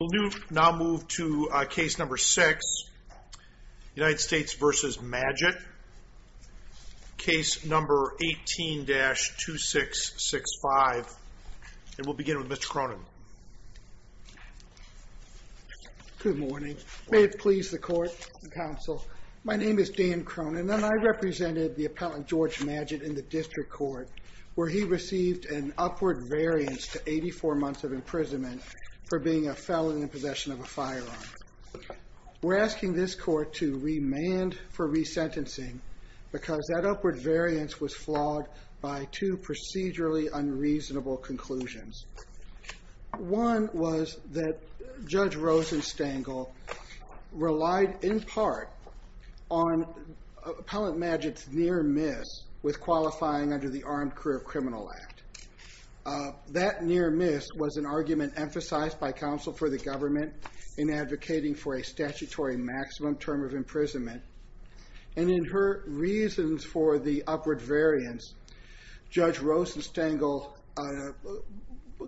We'll now move to case number six, United States v. Madgett. Case number 18-2665. And we'll begin with Mr. Cronin. Good morning. May it please the court and counsel. My name is Dan Cronin and I represented the appellant George Madgett in the district court, where he received an upward variance to 84 months of imprisonment for being a felon in possession of a firearm. We're asking this court to remand for resentencing because that upward variance was flawed by two procedurally unreasonable conclusions. One was that Judge Rosenstengel relied, in part, on Appellant Madgett's near miss with qualifying under the Armed Career Criminal Act. That near miss was an argument emphasized by counsel for the government in advocating for a statutory maximum term of imprisonment. And in her reasons for the upward variance, Judge Rosenstengel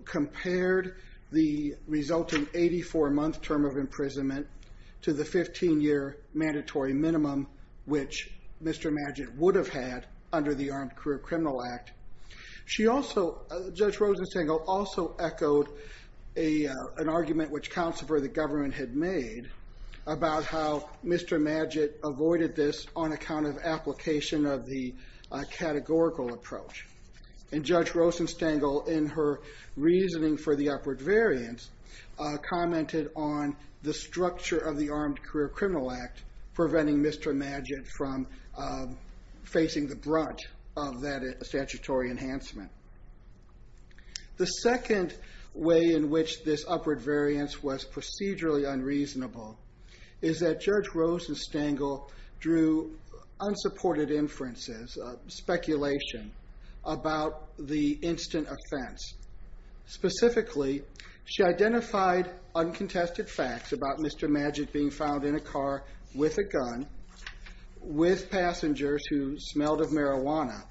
compared the resulting 84-month term of imprisonment to the 15-year mandatory minimum, which Mr. Madgett would have had under the Armed Career Criminal Act. Judge Rosenstengel also echoed an argument which counsel for the government had made about how Mr. Madgett avoided this on account of application of the categorical approach. And Judge Rosenstengel, in her reasoning for the upward variance, commented on the structure of the Armed Career Criminal Act preventing Mr. Madgett from facing the brunt of that statutory maximum term of imprisonment. The second way in which this upward variance was procedurally unreasonable is that Judge Rosenstengel drew unsupported inferences, speculation, about the instant offense. Specifically, she identified uncontested facts about Mr. Madgett being found in a car with a gun, with passengers who smelled of marijuana,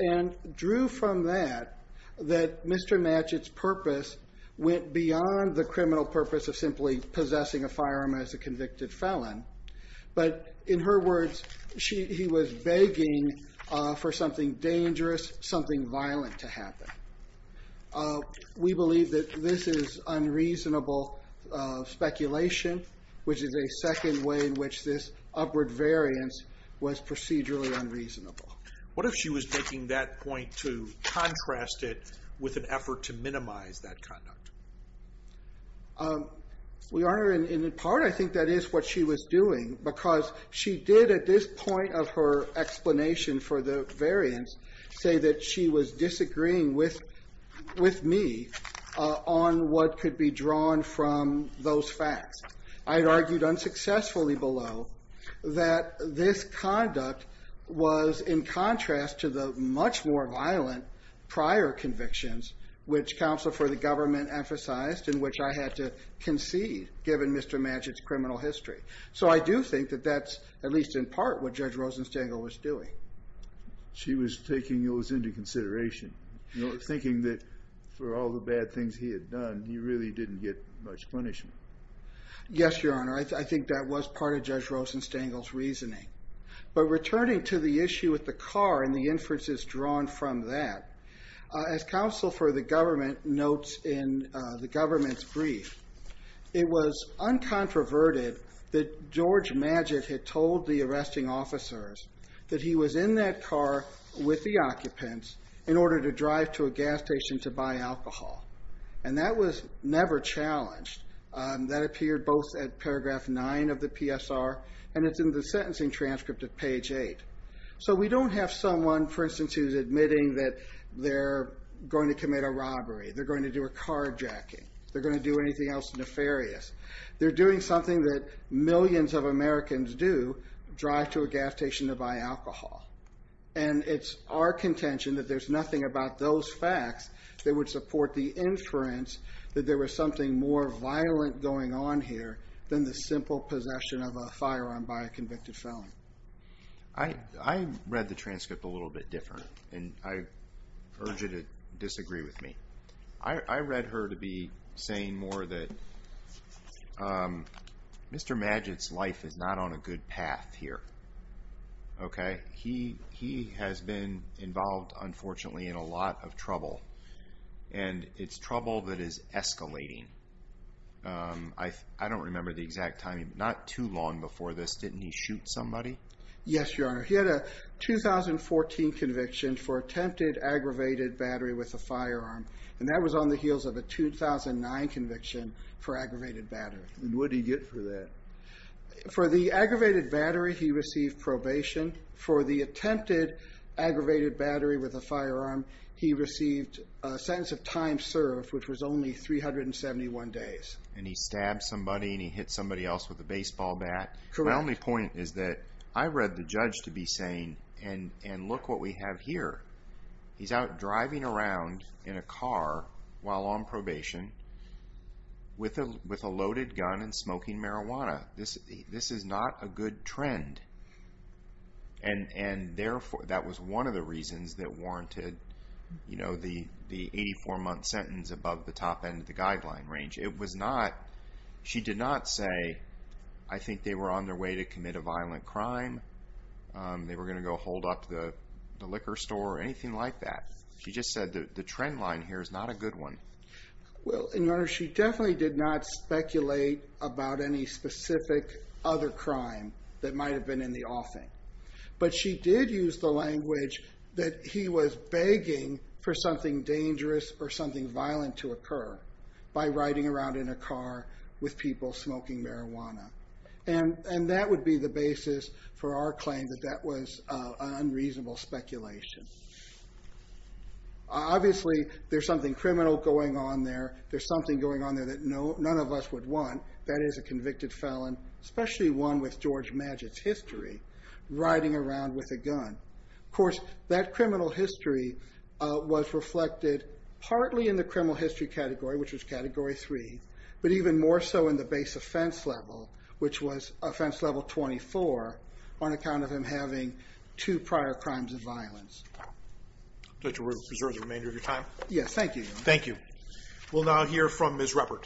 and drew from that that Mr. Madgett's purpose went beyond the criminal purpose of simply possessing a firearm as a convicted felon. But in her words, he was begging for something dangerous, something violent to happen. We believe that this is unreasonable speculation, which is a second way in which this upward variance was procedurally unreasonable. What if she was making that point to contrast it with an effort to minimize that conduct? Your Honor, in part I think that is what she was doing, because she did at this point of her explanation for the variance say that she was disagreeing with me on what could be drawn from those facts. I had argued unsuccessfully below that this conduct was in contrast to the much more violent prior convictions, which counsel for the government emphasized, in which I had to concede given Mr. Madgett's criminal history. So I do think that that's at least in part what Judge Rosenstengel was doing. She was taking those into consideration, thinking that for all the bad things he had done, he really didn't get much punishment. Yes, Your Honor, I think that was part of Judge Rosenstengel's reasoning. But returning to the issue with the car and the inferences drawn from that, as counsel for the government notes in the government's brief, it was uncontroverted that George Madgett had told the arresting officers that he was in that car with the occupants in order to drive to a gas station to buy alcohol. And that was never challenged. That appeared both at paragraph 9 of the PSR, and it's in the sentencing transcript at page 8. So we don't have someone, for instance, who's admitting that they're going to commit a robbery, they're going to do a carjacking, they're going to do anything else nefarious. They're doing something that millions of Americans do, drive to a gas station to buy alcohol. And it's our contention that there's nothing about those facts that would support the inference that there was something more violent going on here than the simple possession of a firearm by a convicted felon. I read the transcript a little bit different, and I urge you to disagree with me. I read her to be saying more that Mr. Madgett's life is not on a good path here. Okay? He has been involved, unfortunately, in a lot of trouble. And it's trouble that is escalating. I don't remember the exact timing, but not too long before this, didn't he shoot somebody? Yes, Your Honor. He had a 2014 conviction for attempted aggravated battery with a firearm. And that was on the heels of a 2009 conviction for aggravated battery. And what did he get for that? For the aggravated battery, he received probation. For the attempted aggravated battery with a firearm, he received a sentence of time served, which was only 371 days. And he stabbed somebody and he hit somebody else with a baseball bat? Correct. Your Honor, my only point is that I read the judge to be saying, and look what we have here. He's out driving around in a car while on probation with a loaded gun and smoking marijuana. This is not a good trend. And that was one of the reasons that warranted the 84-month sentence above the top end of the guideline range. It was not, she did not say, I think they were on their way to commit a violent crime. They were going to go hold up the liquor store or anything like that. She just said the trend line here is not a good one. Well, Your Honor, she definitely did not speculate about any specific other crime that might have been in the offing. But she did use the language that he was begging for something dangerous or something violent to occur. By riding around in a car with people smoking marijuana. And that would be the basis for our claim that that was unreasonable speculation. Obviously, there's something criminal going on there. There's something going on there that none of us would want. That is a convicted felon, especially one with George Magid's history, riding around with a gun. Of course, that criminal history was reflected partly in the criminal history category, which was Category 3. But even more so in the base offense level, which was Offense Level 24. On account of him having two prior crimes of violence. I would like to reserve the remainder of your time. Yes, thank you, Your Honor. Thank you. We'll now hear from Ms. Ruppert.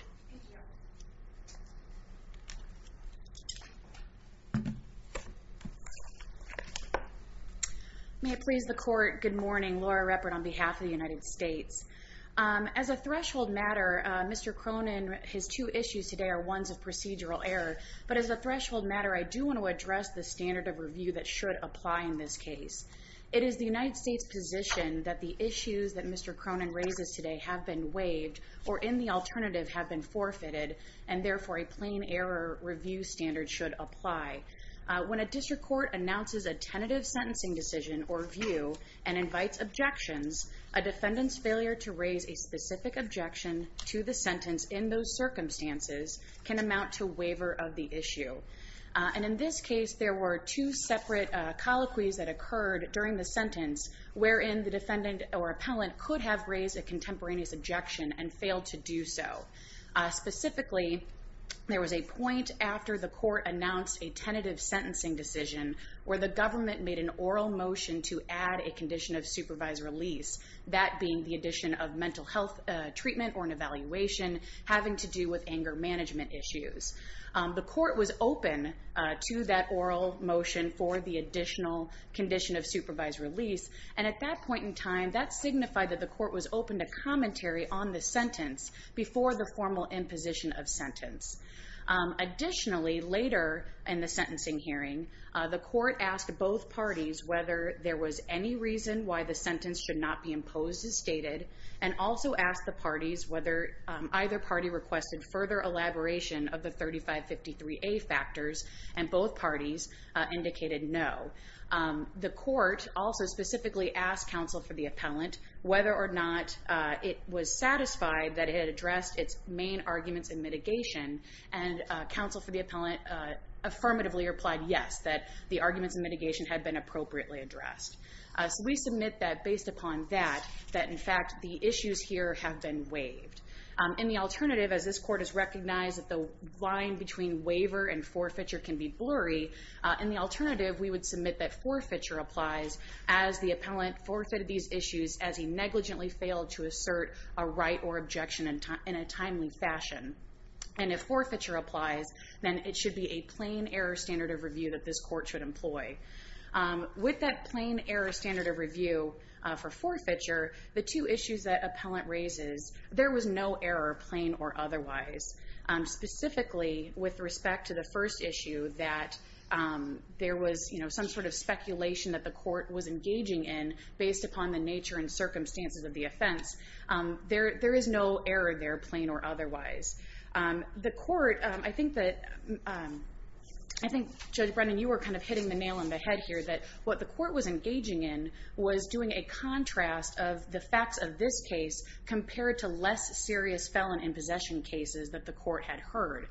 May it please the Court. Good morning. Laura Ruppert on behalf of the United States. As a threshold matter, Mr. Cronin, his two issues today are ones of procedural error. But as a threshold matter, I do want to address the standard of review that should apply in this case. It is the United States' position that the issues that Mr. Cronin raises today have been waived or in the alternative have been forfeited. And therefore, a plain error review standard should apply. When a district court announces a tentative sentencing decision or view and invites objections, a defendant's failure to raise a specific objection to the sentence in those circumstances can amount to waiver of the issue. And in this case, there were two separate colloquies that occurred during the sentence, wherein the defendant or appellant could have raised a contemporaneous objection and failed to do so. Specifically, there was a point after the court announced a tentative sentencing decision where the government made an oral motion to add a condition of supervised release, that being the addition of mental health treatment or an evaluation having to do with anger management issues. The court was open to that oral motion for the additional condition of supervised release. And at that point in time, that signified that the court was open to commentary on the sentence before the formal imposition of sentence. Additionally, later in the sentencing hearing, the court asked both parties whether there was any reason why the sentence should not be imposed as stated, and also asked the parties whether either party requested further elaboration of the 3553A factors, and both parties indicated no. The court also specifically asked counsel for the appellant whether or not it was satisfied that it had addressed its main arguments in mitigation, and counsel for the appellant affirmatively replied yes, that the arguments in mitigation had been appropriately addressed. So we submit that based upon that, that in fact the issues here have been waived. In the alternative, as this court has recognized that the line between waiver and forfeiture can be blurry, in the alternative we would submit that forfeiture applies as the appellant forfeited these issues as he negligently failed to assert a right or objection in a timely fashion. And if forfeiture applies, then it should be a plain error standard of review that this court should employ. With that plain error standard of review for forfeiture, the two issues that appellant raises, there was no error, plain or otherwise. Specifically with respect to the first issue that there was some sort of speculation that the court was engaging in based upon the nature and circumstances of the offense, there is no error there, plain or otherwise. The court, I think Judge Brennan, you were kind of hitting the nail on the head here, that what the court was engaging in was doing a contrast of the facts of this case compared to less serious felon in possession cases that the court had heard.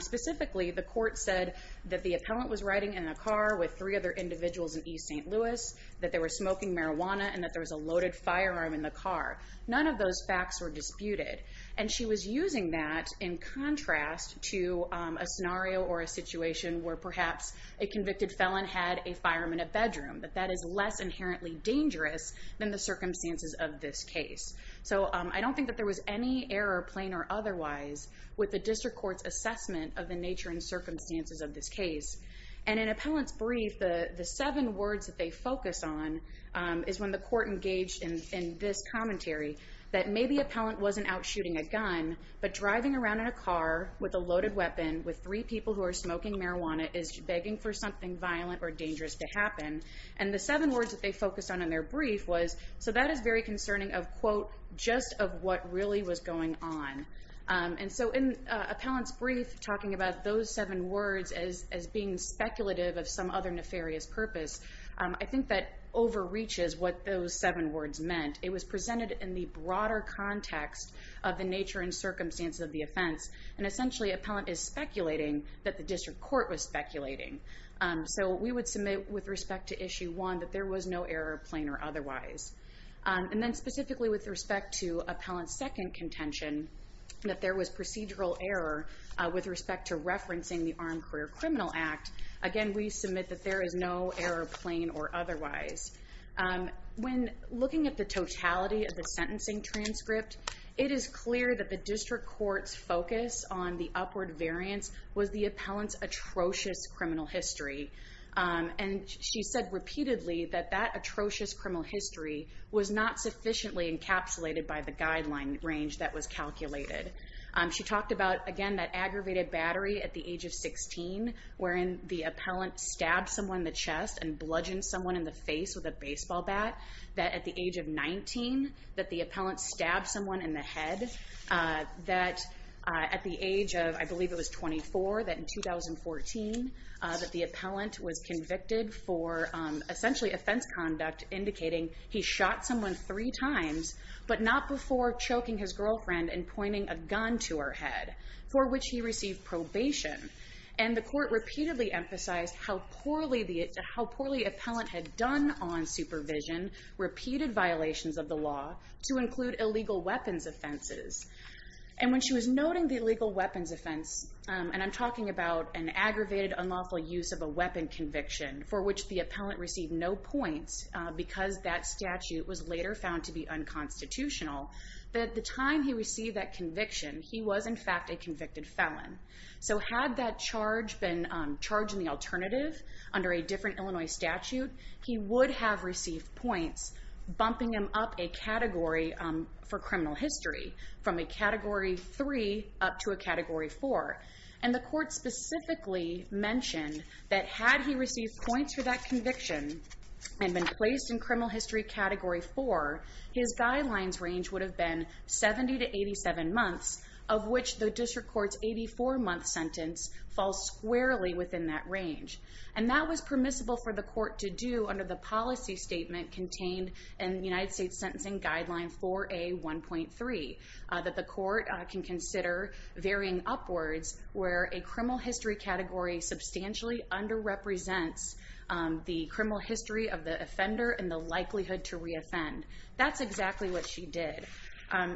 Specifically, the court said that the appellant was riding in a car with three other individuals in East St. Louis, that they were smoking marijuana and that there was a loaded firearm in the car. None of those facts were disputed. And she was using that in contrast to a scenario or a situation where perhaps a convicted felon had a firearm in a bedroom, but that is less inherently dangerous than the circumstances of this case. So I don't think that there was any error, plain or otherwise, with the district court's assessment of the nature and circumstances of this case. And in appellant's brief, the seven words that they focus on is when the court engaged in this commentary, that maybe appellant wasn't out shooting a gun, but driving around in a car with a loaded weapon, with three people who are smoking marijuana, is begging for something violent or dangerous to happen. And the seven words that they focused on in their brief was, so that is very concerning of, quote, just of what really was going on. And so in appellant's brief, talking about those seven words as being speculative of some other nefarious purpose, I think that overreaches what those seven words meant. It was presented in the broader context of the nature and circumstances of the offense. And essentially, appellant is speculating that the district court was speculating. So we would submit with respect to issue one that there was no error, plain or otherwise. And then specifically with respect to appellant's second contention, that there was procedural error with respect to referencing the Armed Career Criminal Act. Again, we submit that there is no error, plain or otherwise. When looking at the totality of the sentencing transcript, it is clear that the district court's focus on the upward variance was the appellant's atrocious criminal history. And she said repeatedly that that atrocious criminal history was not sufficiently encapsulated by the guideline range that was calculated. She talked about, again, that aggravated battery at the age of 16, wherein the appellant stabbed someone in the chest and bludgeoned someone in the face with a baseball bat. That at the age of 19, that the appellant stabbed someone in the head. That at the age of, I believe it was 24, that in 2014, that the appellant was convicted for essentially offense conduct, indicating he shot someone three times, but not before choking his girlfriend and pointing a gun to her head, for which he received probation. And the court repeatedly emphasized how poorly appellant had done on supervision, repeated violations of the law, to include illegal weapons offenses. And when she was noting the illegal weapons offense, and I'm talking about an aggravated unlawful use of a weapon conviction, for which the appellant received no points because that statute was later found to be unconstitutional, that at the time he received that conviction, he was in fact a convicted felon. So had that charge been charged in the alternative, under a different Illinois statute, he would have received points, bumping him up a category for criminal history, from a category three up to a category four. And the court specifically mentioned that had he received points for that conviction and been placed in criminal history category four, his guidelines range would have been 70 to 87 months, of which the district court's 84-month sentence falls squarely within that range. And that was permissible for the court to do under the policy statement contained in the United States Sentencing Guideline 4A1.3, that the court can consider varying upwards where a criminal history category substantially under-represents the criminal history of the offender and the likelihood to re-offend. That's exactly what she did.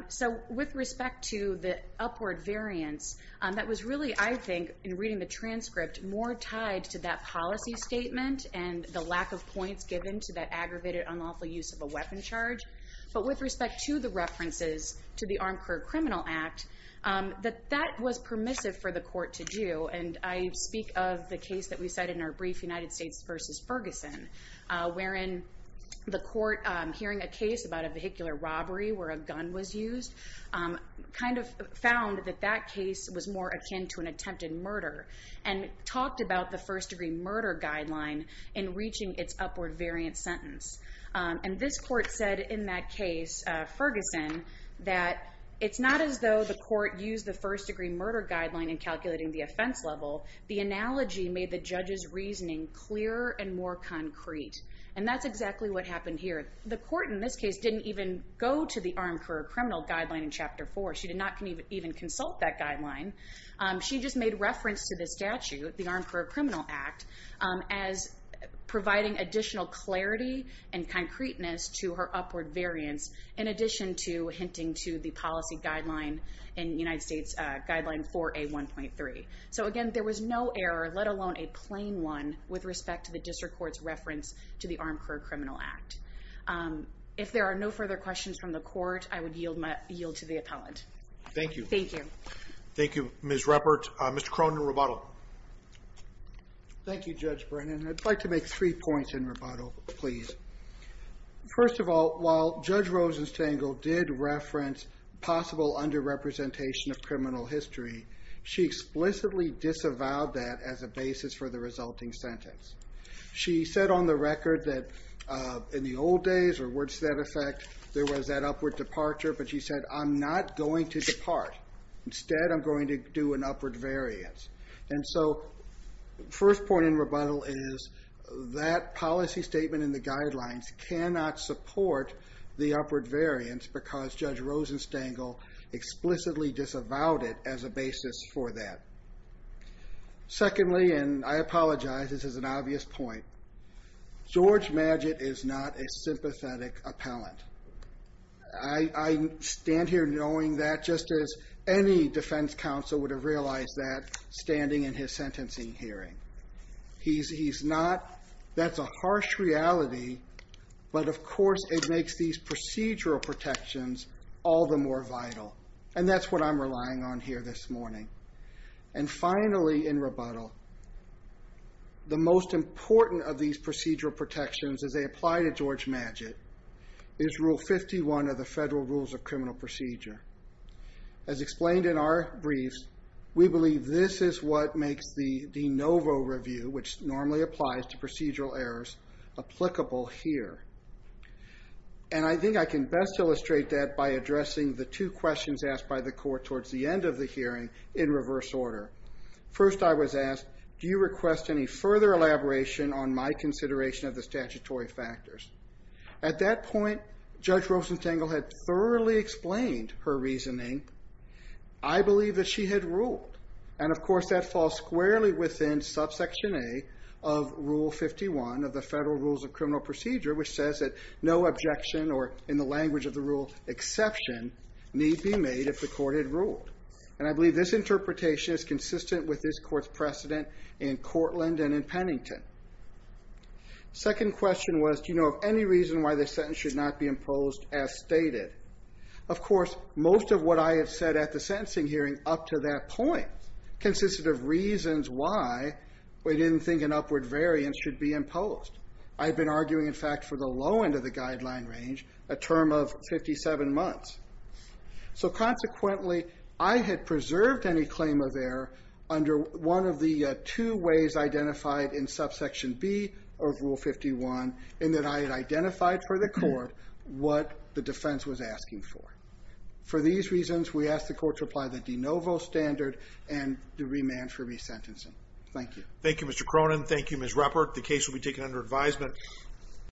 So with respect to the upward variance, that was really, I think, in reading the transcript, more tied to that policy statement and the lack of points given to that aggravated unlawful use of a weapon charge. But with respect to the references to the Armed Career Criminal Act, that that was permissive for the court to do. And I speak of the case that we cited in our brief, United States v. Ferguson, wherein the court, hearing a case about a vehicular robbery where a gun was used, kind of found that that case was more akin to an attempted murder and talked about the first-degree murder guideline in reaching its upward variance sentence. And this court said in that case, Ferguson, that it's not as though the court used the first-degree murder guideline in calculating the offense level. The analogy made the judge's reasoning clearer and more concrete. And that's exactly what happened here. The court in this case didn't even go to the Armed Career Criminal Guideline in Chapter 4. She did not even consult that guideline. She just made reference to this statute, the Armed Career Criminal Act, as providing additional clarity and concreteness to her upward variance in addition to hinting to the policy guideline in United States Guideline 4A1.3. So again, there was no error, let alone a plain one, with respect to the district court's reference to the Armed Career Criminal Act. If there are no further questions from the court, I would yield to the appellant. Thank you. Thank you. Thank you, Ms. Ruppert. Mr. Cronin, rebuttal. Thank you, Judge Brennan. I'd like to make three points in rebuttal, please. First of all, while Judge Rosenstangle did reference possible underrepresentation of criminal history, she explicitly disavowed that as a basis for the resulting sentence. She said on the record that in the old days, or words to that effect, there was that upward departure, but she said, I'm not going to depart. Instead, I'm going to do an upward variance. And so the first point in rebuttal is that policy statement in the guidelines cannot support the upward variance because Judge Rosenstangle explicitly disavowed it as a basis for that. Secondly, and I apologize, this is an obvious point, George Magid is not a sympathetic appellant. I stand here knowing that just as any defense counsel would have realized that standing in his sentencing hearing. He's not. That's a harsh reality. But of course, it makes these procedural protections all the more vital. And that's what I'm relying on here this morning. And finally, in rebuttal, the most important of these procedural protections as they apply to George Magid is Rule 51 of the Federal Rules of Criminal Procedure. As explained in our briefs, we believe this is what makes the de novo review, which normally applies to procedural errors, applicable here. And I think I can best illustrate that by addressing the two questions asked by the court towards the end of the hearing in reverse order. First, I was asked, do you request any further elaboration on my consideration of the statutory factors? At that point, Judge Rosenstangle had thoroughly explained her reasoning. I believe that she had ruled. And of course, that falls squarely within subsection A of Rule 51 of the Federal Rules of Criminal Procedure, which says that no objection or, in the language of the rule, exception need be made if the court had ruled. And I believe this interpretation is consistent with this court's precedent in Cortland and in Pennington. Second question was, do you know of any reason why this sentence should not be imposed as stated? Of course, most of what I have said at the sentencing hearing up to that point consisted of reasons why we didn't think an upward variance should be imposed. I've been arguing, in fact, for the low end of the guideline range, a term of 57 months. So consequently, I had preserved any claim of error under one of the two ways identified in subsection B of Rule 51 in that I had identified for the court what the defense was asking for. For these reasons, we ask the court to apply the de novo standard and to remand for resentencing. Thank you. Thank you, Mr. Cronin. Thank you, Ms. Ruppert. The case will be taken under advisement.